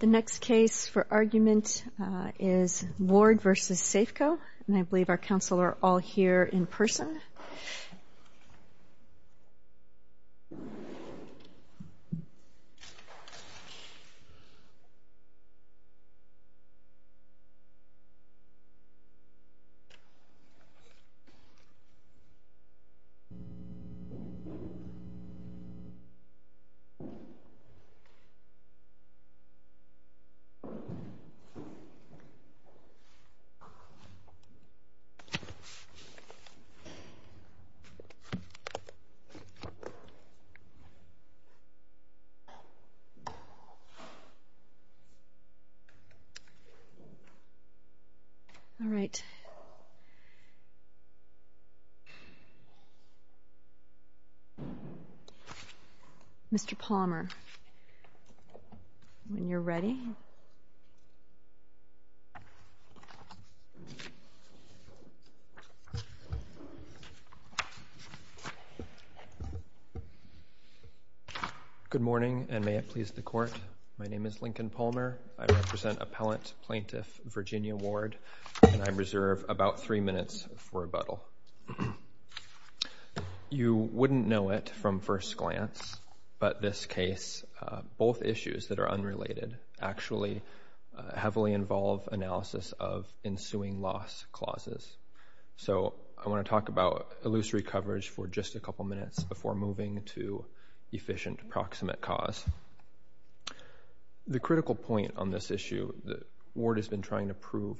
The next case for argument is Ward v. Safeco, and I believe our counsel are all here in Mr. Palmer, when you're ready. Good morning, and may it please the Court. My name is Lincoln Palmer, I represent Appellant Plaintiff Virginia Ward, and I reserve about three minutes for rebuttal. You wouldn't know it from first glance, but this case, both issues that are unrelated actually heavily involve analysis of ensuing loss clauses. So I want to talk about illusory coverage for just a couple minutes before moving to efficient proximate cause. The critical point on this issue that Ward has been trying to prove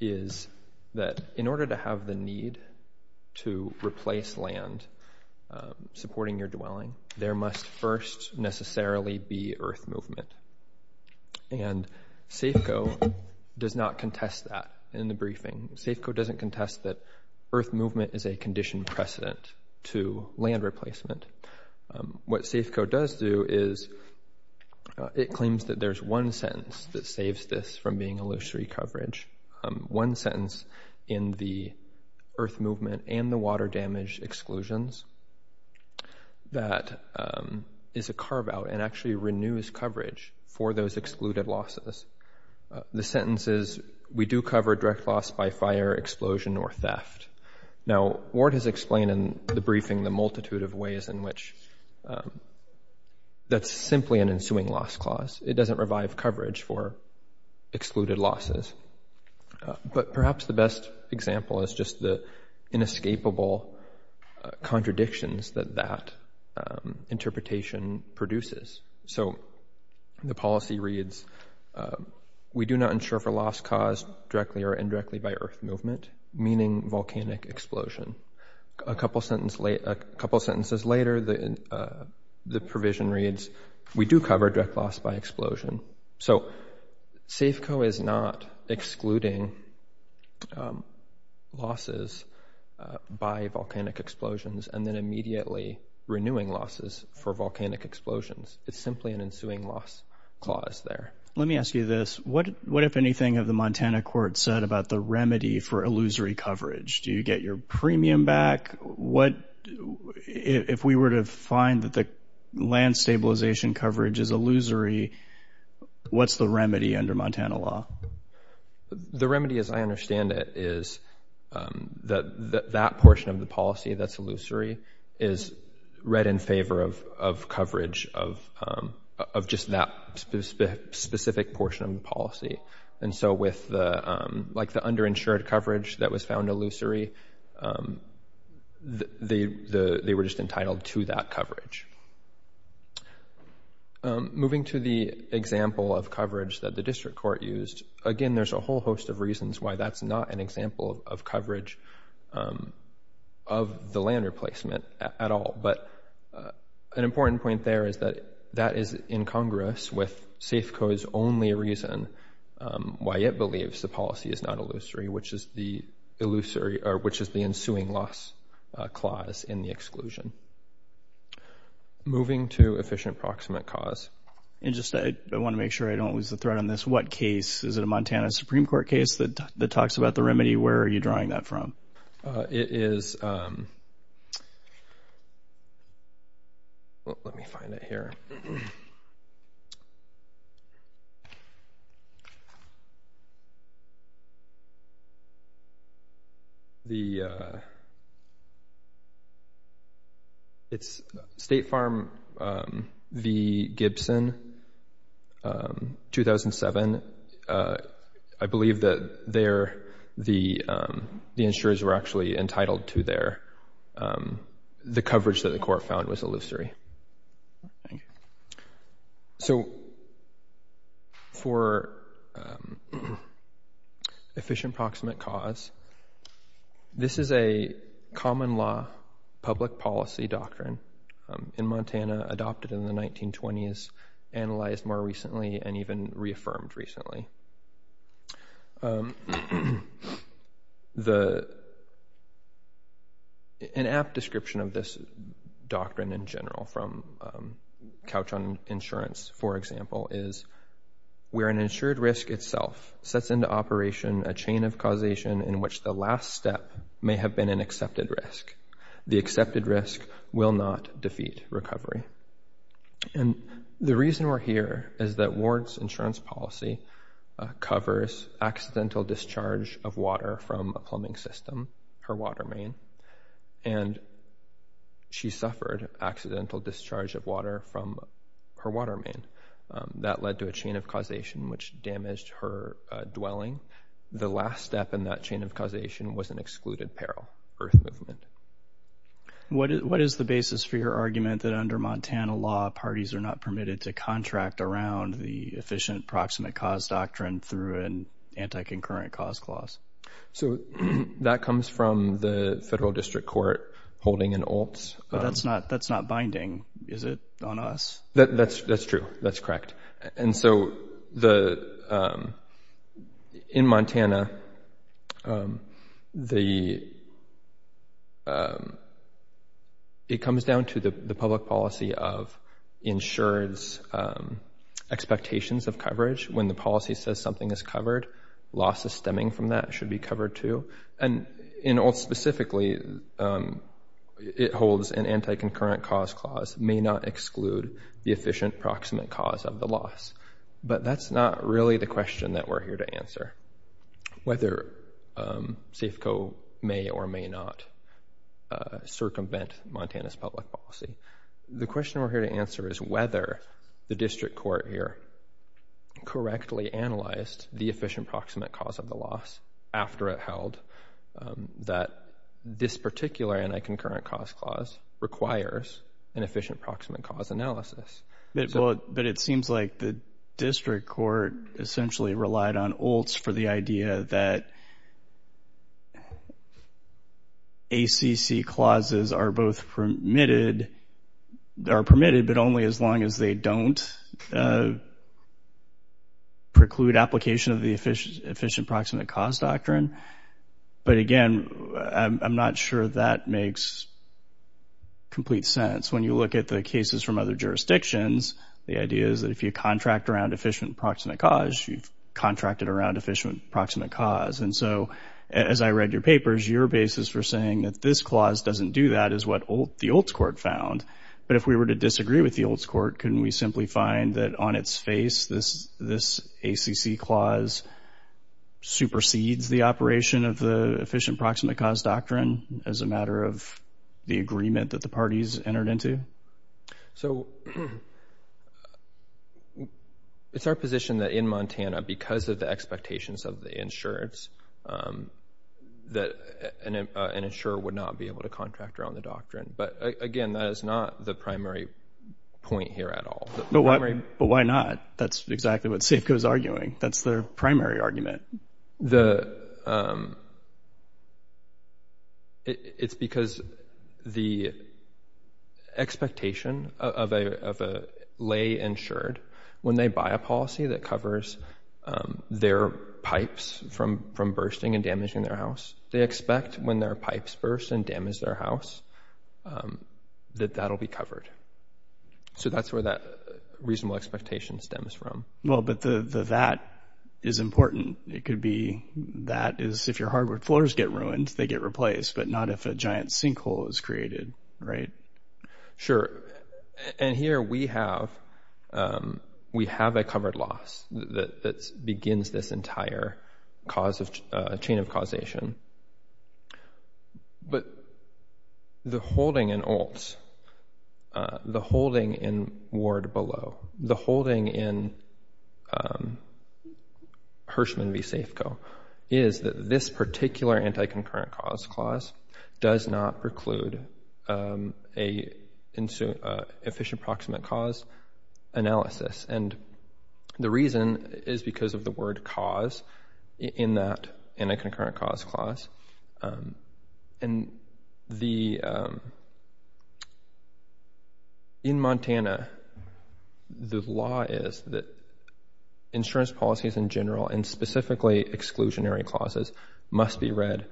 is that in order to have the need to replace land supporting your dwelling, there must first necessarily be earth movement. And Safeco does not contest that in the briefing. Safeco doesn't contest that earth movement is a condition precedent to land replacement. What Safeco does do is it claims that there's one sentence that saves this from being illusory coverage, one sentence in the earth movement and the water damage exclusions that is a carve out and actually renews coverage for those excluded losses. The sentence is, we do cover direct loss by fire, explosion, or theft. Now Ward has explained in the briefing the multitude of ways in which that's simply an ensuing loss clause. It doesn't revive coverage for excluded losses. But perhaps the best example is just the inescapable contradictions that that interpretation produces. So the policy reads, we do not ensure for loss caused directly or indirectly by earth movement, meaning volcanic explosion. A couple sentences later, the provision reads, we do cover direct loss by explosion. So Safeco is not excluding losses by volcanic explosions and then immediately renewing losses for volcanic explosions. It's simply an ensuing loss clause there. Let me ask you this. What if anything of the Montana court said about the remedy for illusory coverage? Do you get your premium back? What if we were to find that the land stabilization coverage is illusory, what's the remedy under Montana law? The remedy as I understand it is that that portion of the policy that's illusory is read in favor of coverage of just that specific portion of the policy. And so with the underinsured coverage that was found illusory, they were just entitled to that coverage. Moving to the example of coverage that the district court used, again, there's a whole host of reasons why that's not an example of coverage of the land replacement at all. But an important point there is that that is in Congress with Safeco's only reason why it believes the policy is not illusory, which is the ensuing loss clause in the exclusion. Moving to efficient proximate cause. And just I want to make sure I don't lose the thread on this. What case? Is it a Montana Supreme Court case that talks about the remedy? Where are you drawing that from? It is. Let me find it here. The. It's State Farm v. Gibson, 2007. I believe that there the insurers were actually entitled to their the coverage that the court found was illusory. So for efficient proximate cause, this is a common law public policy doctrine in Montana adopted in the 1920s, analyzed more recently, and even reaffirmed recently. The. An apt description of this doctrine in general from Couch on Insurance, for example, is where an insured risk itself sets into operation a chain of causation in which the last step may have been an accepted risk. The accepted risk will not defeat recovery. And the reason we're here is that Ward's insurance policy covers accidental discharge of water from a plumbing system, her water main, and. She suffered accidental discharge of water from her water main that led to a chain of causation which damaged her dwelling. The last step in that chain of causation was an excluded peril for the movement. What is the basis for your argument that under Montana law, parties are not permitted to contract around the efficient proximate cause doctrine through an anti-concurrent cause clause? So that comes from the federal district court holding an alts. But that's not that's not binding, is it, on us? That's that's true. That's correct. And so the in Montana, the. It comes down to the public policy of insureds expectations of coverage when the policy says something is covered. Losses stemming from that should be covered, too. And in alts specifically, it holds an anti-concurrent cause clause may not exclude the efficient proximate cause of the loss. But that's not really the question that we're here to answer. Whether Safeco may or may not circumvent Montana's public policy. The question we're here to answer is whether the district court here correctly analyzed the efficient proximate cause of the loss after it held that this particular anti-concurrent cause clause requires an efficient proximate cause analysis. But it seems like the district court essentially relied on alts for the idea that. ACC clauses are both permitted are permitted, but only as long as they don't. Preclude application of the efficient, efficient proximate cause doctrine. But again, I'm not sure that makes. Complete sense when you look at the cases from other jurisdictions, the idea is that if you contract around efficient proximate cause, you've contracted around efficient proximate cause. And so as I read your papers, your basis for saying that this clause doesn't do that is what the alts court found. But if we were to disagree with the alts court, couldn't we simply find that on its face, this this ACC clause supersedes the operation of the efficient proximate cause doctrine as a matter of the agreement that the parties entered into? So it's our position that in Montana, because of the expectations of the insurance, that an insurer would not be able to contract around the doctrine. But again, that is not the primary point here at all. But why not? That's exactly what Safeco is arguing. That's their primary argument. It's because the expectation of a lay insured, when they buy a policy that covers their pipes from bursting and damaging their house, they expect when their pipes burst and damage their house, that that'll be covered. So that's where that reasonable expectation stems from. Well, but the that is important. It could be that is if your hardwood floors get ruined, they get replaced, but not if a giant sinkhole is created. Right. Sure. And here we have we have a covered loss that begins this entire cause of chain of causation. But the holding in alts, the holding in ward below, the holding in Hirschman v. Safeco, is that this particular anti-concurrent cause clause does not preclude a efficient proximate cause analysis. And the reason is because of the word cause in that anti-concurrent cause clause. And in Montana, the law is that insurance policies in general and specifically exclusionary clauses must be read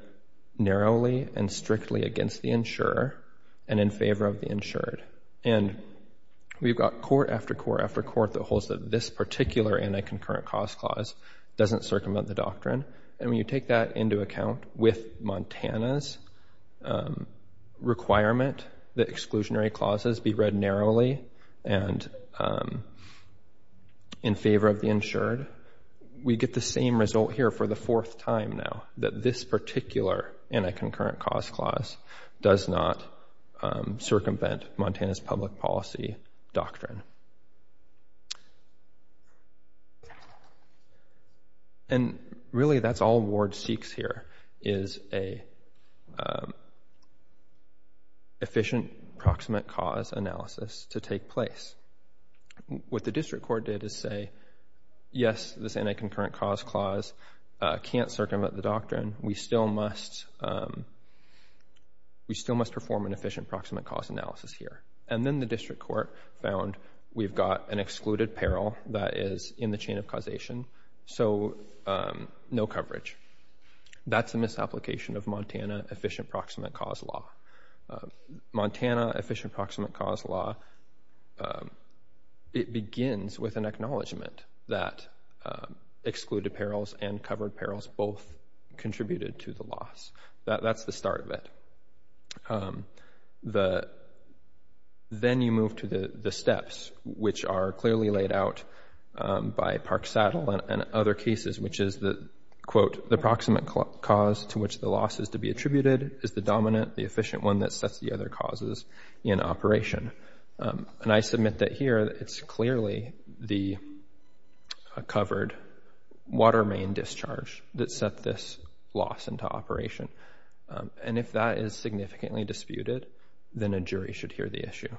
narrowly and strictly against the insurer and in favor of the insured. And we've got court after court after court that holds that this particular anti-concurrent cause clause doesn't circumvent the doctrine. And when you take that into account with Montana's requirement that exclusionary clauses be read narrowly and in favor of the insured, we get the same result here for the fourth time now that this particular anti-concurrent cause clause does not circumvent Montana's public policy doctrine. And really, that's all Ward seeks here is an efficient proximate cause analysis to take place. What the district court did is say, yes, this anti-concurrent cause clause can't circumvent the doctrine. We still must perform an efficient proximate cause analysis here. And then the district court found we've got an excluded peril that is in the chain of causation, so no coverage. That's a misapplication of Montana efficient proximate cause law. Montana efficient proximate cause law, it begins with an acknowledgment that excluded perils and covered perils both contributed to the loss. That's the start of it. Then you move to the steps which are clearly laid out by Park-Saddle and other cases, which is that, quote, the proximate cause to which the loss is to be attributed is the dominant, the efficient one that sets the other causes in operation. And I submit that here it's clearly the covered water main discharge that set this loss into operation. And if that is significantly disputed, then a jury should hear the issue.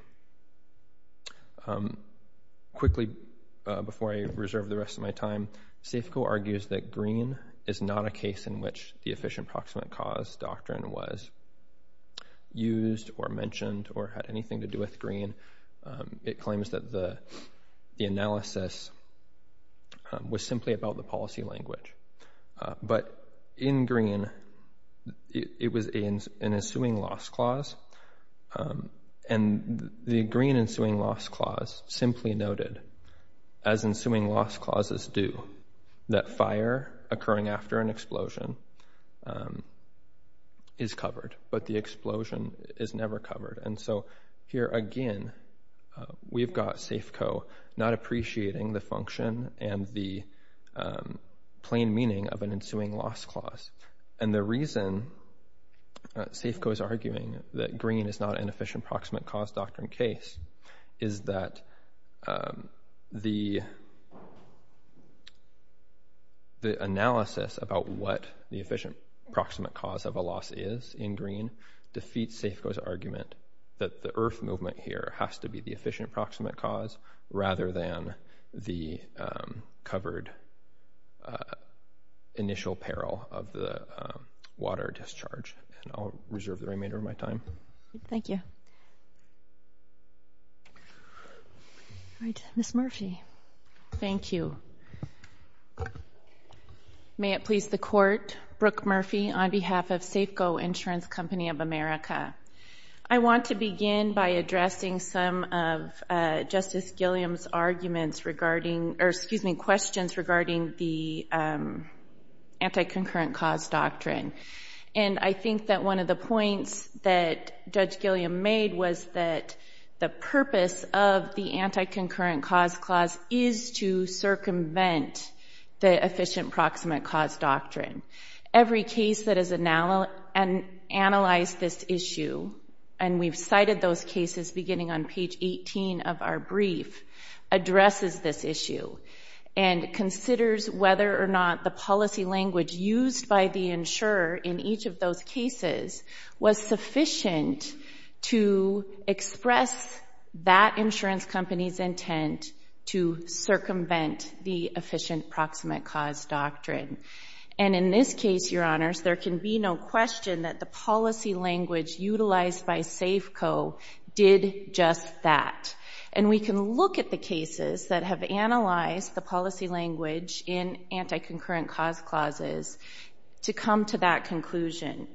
Quickly, before I reserve the rest of my time, Safco argues that Green is not a case in which the efficient proximate cause doctrine was used or mentioned or had anything to do with Green. It claims that the analysis was simply about the policy language. But in Green, it was an ensuing loss clause, and the Green ensuing loss clause simply noted, as ensuing loss clauses do, that fire occurring after an explosion is covered, but the explosion is never covered. And so here again, we've got Safco not appreciating the function and the plain meaning of an ensuing loss clause. And the reason Safco is arguing that Green is not an efficient proximate cause doctrine case is that the analysis about what the efficient proximate cause of a loss is in Green defeats Safco's argument that the IRF movement here has to be the efficient proximate cause rather than the covered initial peril of the water discharge. And I'll reserve the remainder of my time. Thank you. Ms. Murphy. Thank you. May it please the court. Brooke Murphy on behalf of Safco Insurance Company of America. I want to begin by addressing some of Justice Gilliam's arguments regarding, or excuse me, questions regarding the anti-concurrent cause doctrine. And I think that one of the points that Judge Gilliam made was that the purpose of the insurance company's intent was to circumvent the efficient proximate cause doctrine. Every case that has analyzed this issue, and we've cited those cases beginning on page 18 of our brief, addresses this issue and considers whether or not the policy language used by the insurer in each of those cases was sufficient to express that insurance company's intent to circumvent the efficient proximate cause doctrine. And in this case, Your Honors, there can be no question that the policy language utilized by Safco did just that. And we can look at the cases that have analyzed the policy language in anti-concurrent cause clauses to come to that conclusion.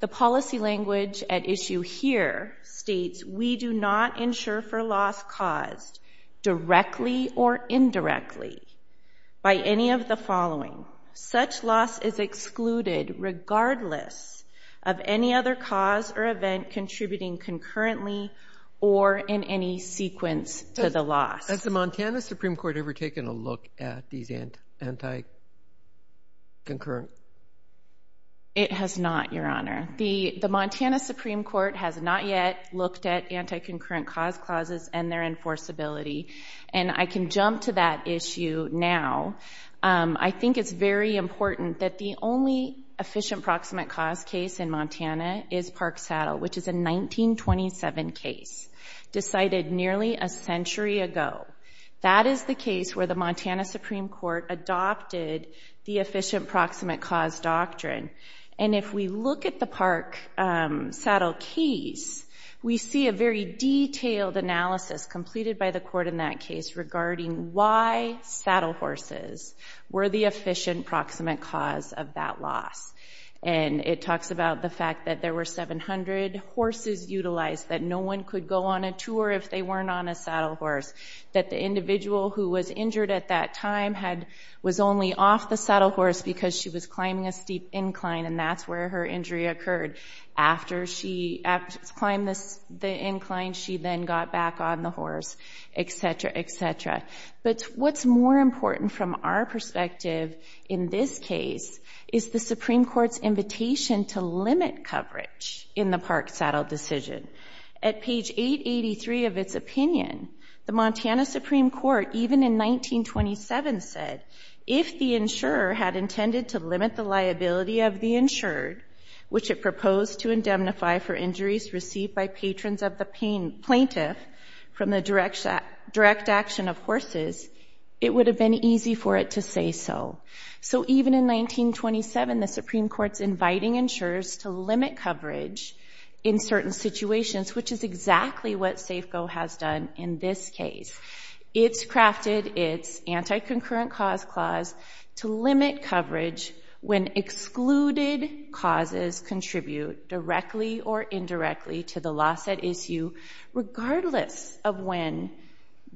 The policy language at issue here states, we do not insure for loss caused directly or indirectly by any of the following. Such loss is excluded regardless of any other cause or event contributing concurrently or in any sequence to the loss. Has the Montana Supreme Court ever taken a look at these anti-concurrent? It has not, Your Honor. The Montana Supreme Court has not yet looked at anti-concurrent cause clauses and their enforceability. And I can jump to that issue now. I think it's very important that the only efficient proximate cause case in Montana is Park Saddle, which is a 1927 case decided nearly a century ago. That is the case where the Montana Supreme Court adopted the efficient proximate cause doctrine. And if we look at the Park Saddle case, we see a very detailed analysis completed by the court in that case regarding why saddle horses were the efficient proximate cause of that loss. And it talks about the fact that there were 700 horses utilized, that no one could go on a tour if they weren't on a saddle horse, that the individual who was injured at that time was only off the saddle horse because she was climbing a steep incline and that's where her injury occurred. After she climbed the incline, she then got back on the horse, et cetera, et cetera. But what's more important from our perspective in this case is the Supreme Court's invitation to limit coverage in the Park Saddle decision. At page 883 of its opinion, the Montana Supreme Court, even in 1927, said if the insurer had intended to limit the liability of the insured, which it proposed to indemnify for injuries received by patrons of the plaintiff from the direct action of horses, it would have been easy for it to say so. So even in 1927, the Supreme Court's inviting insurers to limit coverage in certain situations, which is exactly what Safeco has done in this case. It's crafted its anti-concurrent cause clause to limit coverage when excluded causes contribute directly or indirectly to the loss at issue, regardless of when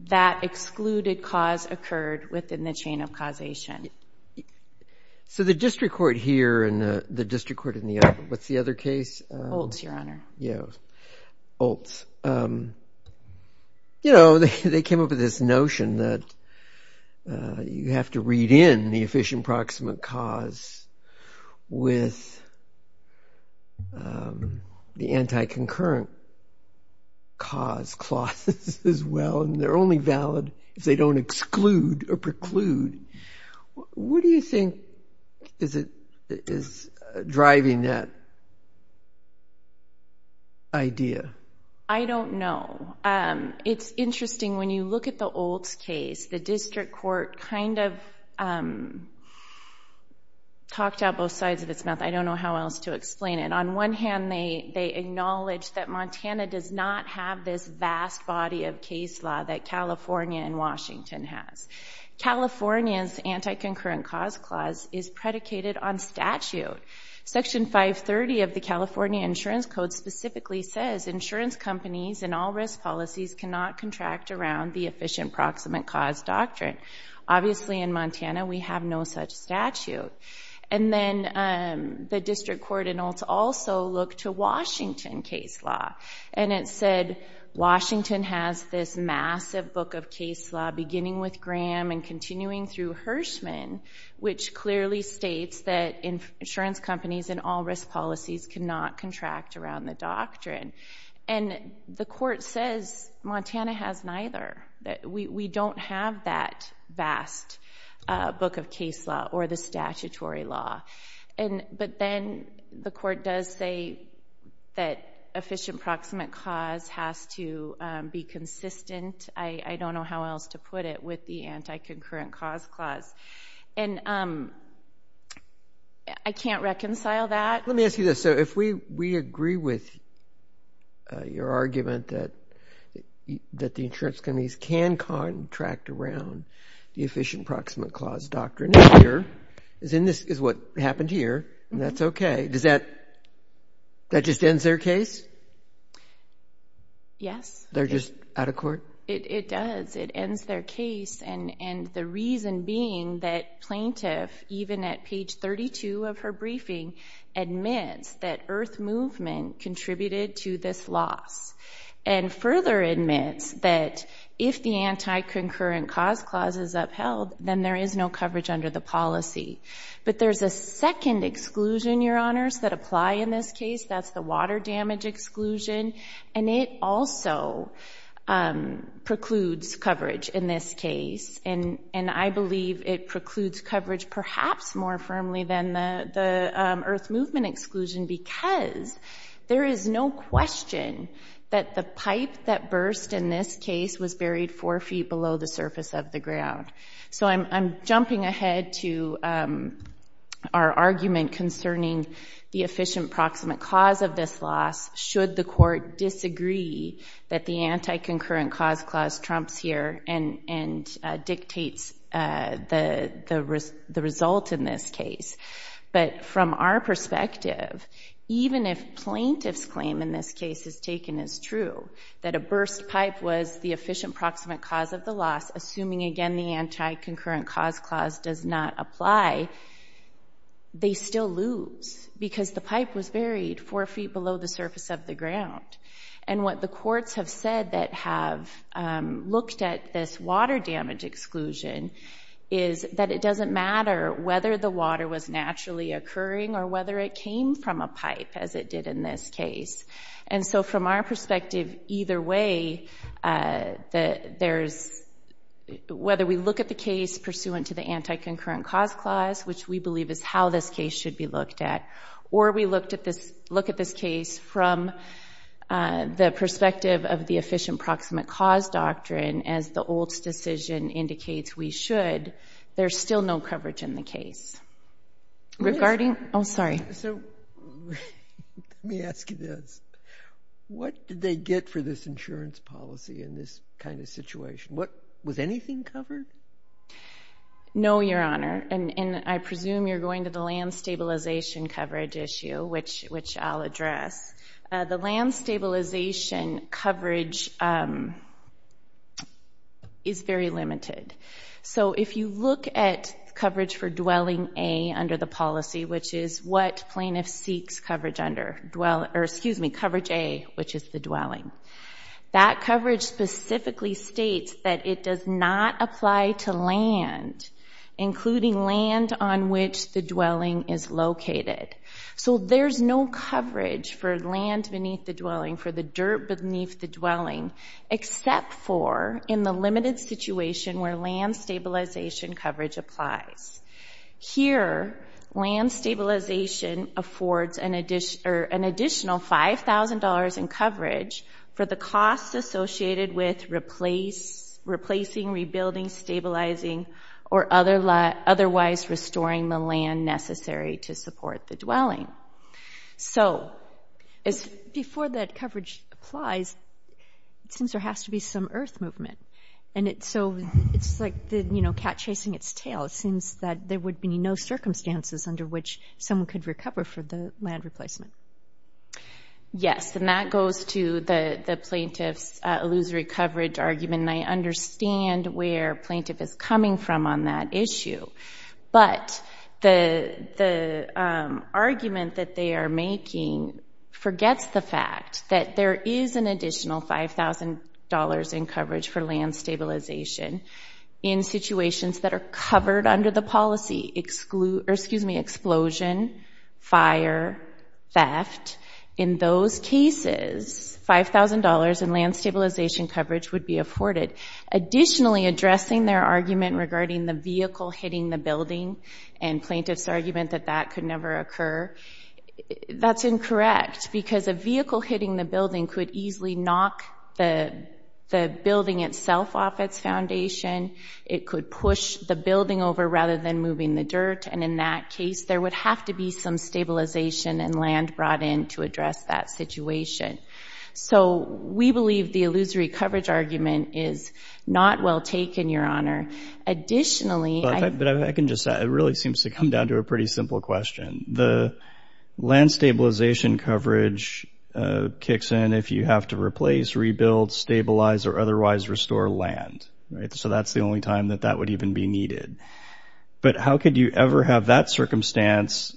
that excluded cause occurred within the chain of causation. So the district court here and the district court in the other, what's the other case? Oltz, Your Honor. Yeah, Oltz. You know, they came up with this notion that you have to read in the efficient proximate cause with the anti-concurrent cause clauses as well, and they're only valid if they don't exclude or preclude. What do you think is driving that idea? I don't know. It's interesting when you look at the Oltz case, the district court kind of talked out both sides of its mouth. I don't know how else to explain it. On one hand, they acknowledge that Montana does not have this vast body of case law that California and Washington has. California's anti-concurrent cause clause is predicated on statute. Section 530 of the California Insurance Code specifically says insurance companies and all risk policies cannot contract around the efficient proximate cause doctrine. Obviously, in Montana, we have no such statute. And then the district court in Oltz also looked to Washington case law and it said Washington has this massive book of case law beginning with Graham and continuing through Hirschman, which clearly states that insurance companies and all risk policies cannot contract around the doctrine. And the court says Montana has neither. We don't have that vast book of case law or the statutory law. But then the court does say that efficient proximate cause has to be consistent. I don't know how else to put it with the anti-concurrent cause clause. And I can't reconcile that. Let me ask you this. So if we agree with your argument that the insurance companies can contract around the happened here and that's OK, does that that just ends their case? Yes, they're just out of court. It does. It ends their case. And the reason being that plaintiff, even at page 32 of her briefing, admits that Earth Movement contributed to this loss and further admits that if the anti-concurrent cause clause is upheld, then there is no coverage under the policy. But there's a second exclusion, Your Honors, that apply in this case. That's the water damage exclusion. And it also precludes coverage in this case. And I believe it precludes coverage perhaps more firmly than the Earth Movement exclusion because there is no question that the pipe that burst in this case was buried four feet below the surface of the ground. So I'm jumping ahead to our argument concerning the efficient proximate cause of this loss should the court disagree that the anti-concurrent cause clause trumps here and dictates the result in this case. But from our perspective, even if plaintiff's claim in this case is taken as true, that the burst pipe was the efficient proximate cause of the loss, assuming again the anti-concurrent cause clause does not apply, they still lose because the pipe was buried four feet below the surface of the ground. And what the courts have said that have looked at this water damage exclusion is that it doesn't matter whether the water was naturally occurring or whether it came from a pipe as it did in this case. And so from our perspective, either way, whether we look at the case pursuant to the anti-concurrent cause clause, which we believe is how this case should be looked at, or we look at this case from the perspective of the efficient proximate cause doctrine, as the Olds decision indicates we should, there's still no coverage in the case. Regarding, oh, sorry. So let me ask you this, what did they get for this insurance policy in this kind of situation? What, was anything covered? No, Your Honor. And I presume you're going to the land stabilization coverage issue, which I'll address. The land stabilization coverage is very limited. So if you look at coverage for dwelling A under the policy, which is what plaintiff seeks coverage under, excuse me, coverage A, which is the dwelling, that coverage specifically states that it does not apply to land, including land on which the dwelling is located. So there's no coverage for land beneath the dwelling, for the dirt beneath the dwelling, land stabilization coverage applies. Here, land stabilization affords an additional $5,000 in coverage for the costs associated with replacing, rebuilding, stabilizing, or otherwise restoring the land necessary to support the dwelling. So before that coverage applies, it seems there has to be some earth movement. And so it's like the cat chasing its tail. It seems that there would be no circumstances under which someone could recover for the land replacement. Yes. And that goes to the plaintiff's illusory coverage argument. And I understand where plaintiff is coming from on that issue, but the argument that they are making forgets the fact that there is an additional $5,000 in coverage for land stabilization in situations that are covered under the policy, excuse me, explosion, fire, theft. In those cases, $5,000 in land stabilization coverage would be afforded. Additionally, addressing their argument regarding the vehicle hitting the building and plaintiff's argument that that could never occur, that's incorrect because a building itself off its foundation, it could push the building over rather than moving the dirt. And in that case, there would have to be some stabilization and land brought in to address that situation. So we believe the illusory coverage argument is not well taken, Your Honor. Additionally, I can just say it really seems to come down to a pretty simple question. The land stabilization coverage kicks in if you have to replace, rebuild, stabilize, or otherwise restore land, right? So that's the only time that that would even be needed. But how could you ever have that circumstance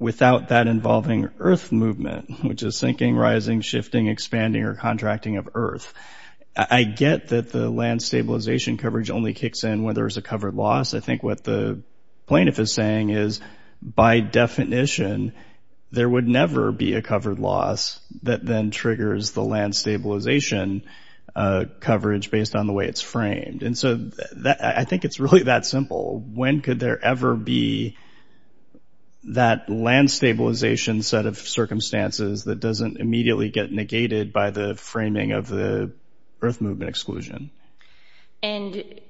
without that involving earth movement, which is sinking, rising, shifting, expanding, or contracting of earth? I get that the land stabilization coverage only kicks in when there's a covered loss. I think what the plaintiff is saying is, by definition, there would never be a covered loss that then triggers the land stabilization coverage based on the way it's framed. And so I think it's really that simple. When could there ever be that land stabilization set of circumstances that doesn't immediately get negated by the framing of the earth movement exclusion? And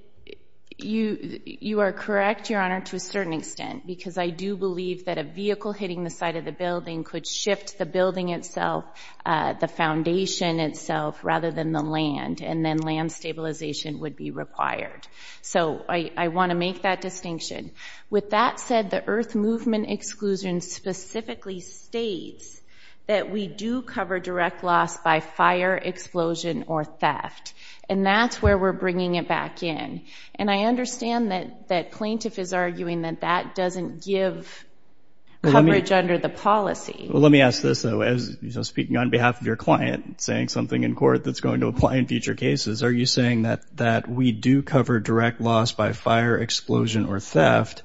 you are correct, Your Honor, to a certain extent, because I do believe that a land stabilization would be covering itself, the foundation itself, rather than the land. And then land stabilization would be required. So I want to make that distinction. With that said, the earth movement exclusion specifically states that we do cover direct loss by fire, explosion, or theft. And that's where we're bringing it back in. And I understand that that plaintiff is arguing that that doesn't give coverage under the policy. Well, let me ask this, though, as you're speaking on behalf of your client, saying something in court that's going to apply in future cases, are you saying that we do cover direct loss by fire, explosion, or theft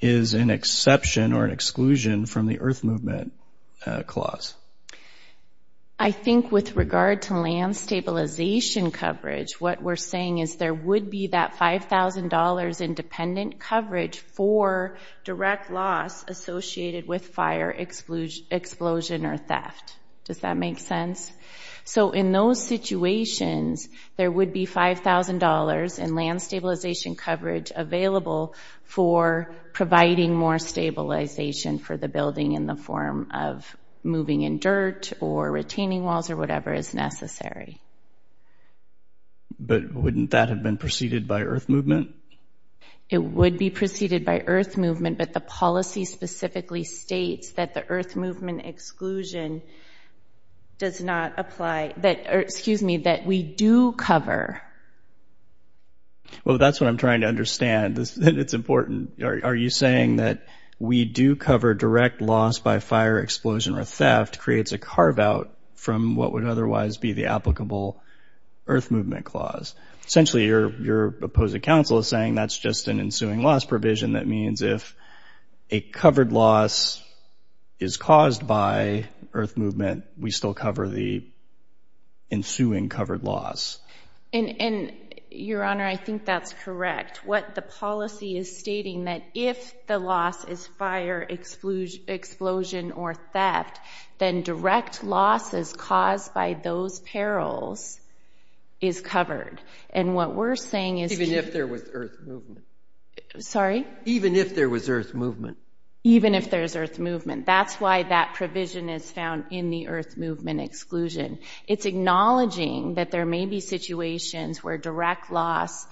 is an exception or an exclusion from the earth movement clause? I think with regard to land stabilization coverage, what we're saying is there would be that $5,000 independent coverage for direct loss associated with fire explosion or theft. Does that make sense? So in those situations, there would be $5,000 in land stabilization coverage available for providing more stabilization for the building in the form of moving in dirt or retaining walls or whatever is necessary. But wouldn't that have been preceded by earth movement? It would be preceded by earth movement, but the policy specifically states that the earth movement exclusion does not apply, that, excuse me, that we do cover. Well, that's what I'm trying to understand. It's important. Are you saying that we do cover direct loss by fire, explosion, or theft creates a carve out from what would otherwise be the applicable earth movement clause? Essentially, your opposing counsel is saying that's just an ensuing loss provision. That means if a covered loss is caused by earth movement, we still cover the ensuing covered loss. And Your Honor, I think that's correct. What the policy is stating that if the loss is fire, explosion, or theft, then direct loss is caused by those perils is covered. And what we're saying is even if there was earth movement, sorry, even if there was earth movement, even if there's earth movement, that's why that provision is found in the earth movement exclusion. It's acknowledging that there may be situations where direct loss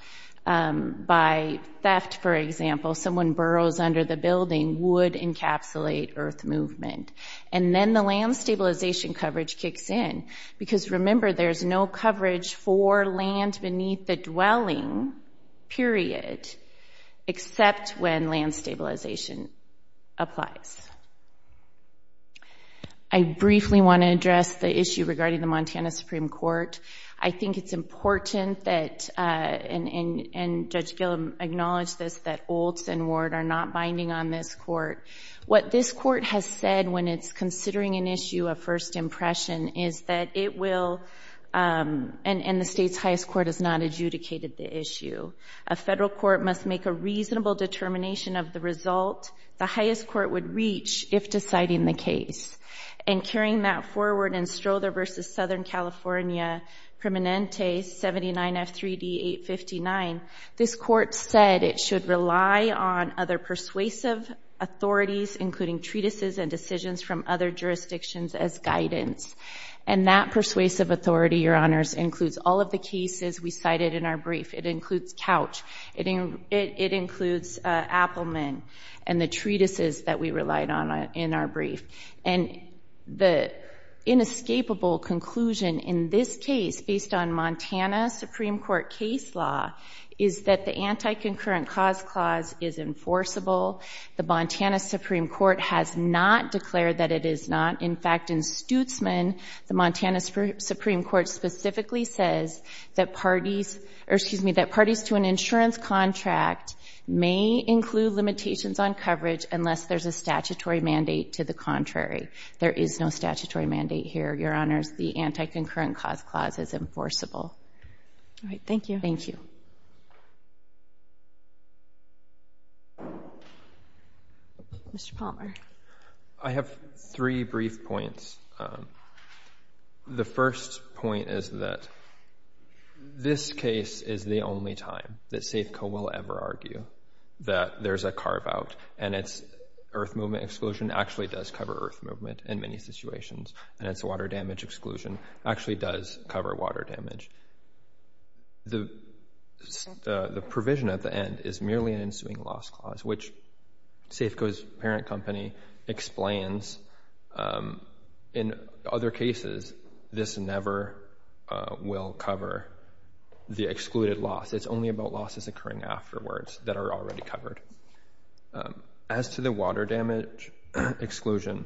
by theft, for example, someone burrows under the building would encapsulate earth movement. And then the land stabilization coverage kicks in. Because remember, there's no coverage for land beneath the dwelling, period, except when land stabilization applies. I briefly want to address the issue regarding the Montana Supreme Court. I think it's important that, and Judge Gillum acknowledged this, that Olds and Ward are not binding on this court. What this court has said when it's considering an issue of first impression is that it will, and the state's highest court has not adjudicated the issue, a federal court must make a reasonable determination of the result the highest court would reach if deciding the case. And carrying that forward in Strother v. Southern California, Permanente 79F3D859, this court said it should rely on other persuasive authorities, including treatises and decisions from other jurisdictions as guidance. And that persuasive authority, Your Honors, includes all of the cases we cited in our brief. It includes Couch. It includes Appelman and the treatises that we relied on in our brief. And the inescapable conclusion in this case, based on Montana Supreme Court case law, is that the anti-concurrent cause clause is enforceable. The Montana Supreme Court has not declared that it is not. In fact, in Stutzman, the Montana Supreme Court specifically says that parties, or excuse me, that parties to an insurance contract may include limitations on coverage unless there's a statutory mandate to the contrary. There is no statutory mandate here, Your Honors. The anti-concurrent cause clause is enforceable. All right. Thank you. Thank you. Mr. Palmer. I have three brief points. The first point is that this case is the only time that Safeco will ever argue that there's a carve-out, and its earth movement exclusion actually does cover earth movement in many situations, and its water damage exclusion actually does cover water damage. The provision at the end is merely an ensuing loss clause, which Safeco's parent company explains in other cases, this never will cover the excluded loss. It's only about losses occurring afterwards that are already covered. As to the water damage exclusion,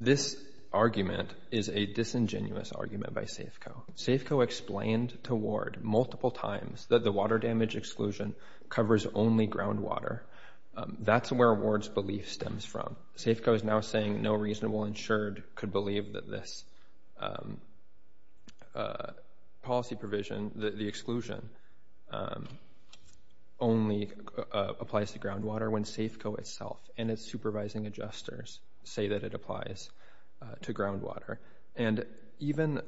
this argument is a disingenuous argument by Safeco. Safeco explained to Ward multiple times that the water damage exclusion covers only groundwater. That's where Ward's belief stems from. Safeco is now saying no reasonable insured could believe that this policy provision, the exclusion, only applies to groundwater when Safeco itself and its supervising adjusters say that it applies to groundwater. And even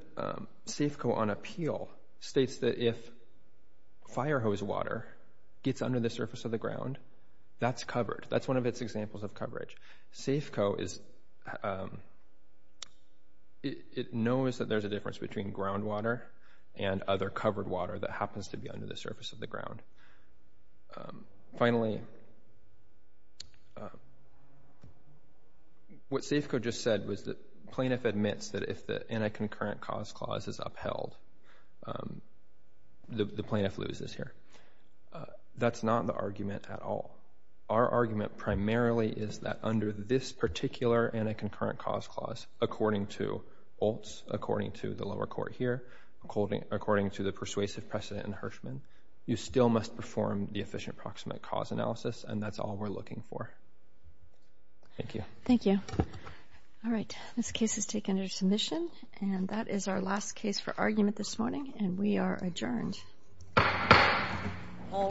Safeco on appeal states that if fire hose water gets under the surface of the ground, that's covered. That's one of its examples of coverage. Safeco is, it knows that there's a difference between groundwater and other covered water that happens to be under the surface of the ground. Finally, what Safeco just said was that plaintiff admits that if the anti-concurrent cause clause is upheld, the plaintiff loses here. That's not the argument at all. Our argument primarily is that under this particular anti-concurrent cause clause, according to Oltz, according to the lower court here, according to the persuasive precedent in Hirschman, you still must perform the efficient approximate cause analysis. And that's all we're looking for. Thank you. Thank you. All right. This case is taken under submission and that is our last case for argument this morning. And we are adjourned. All rise.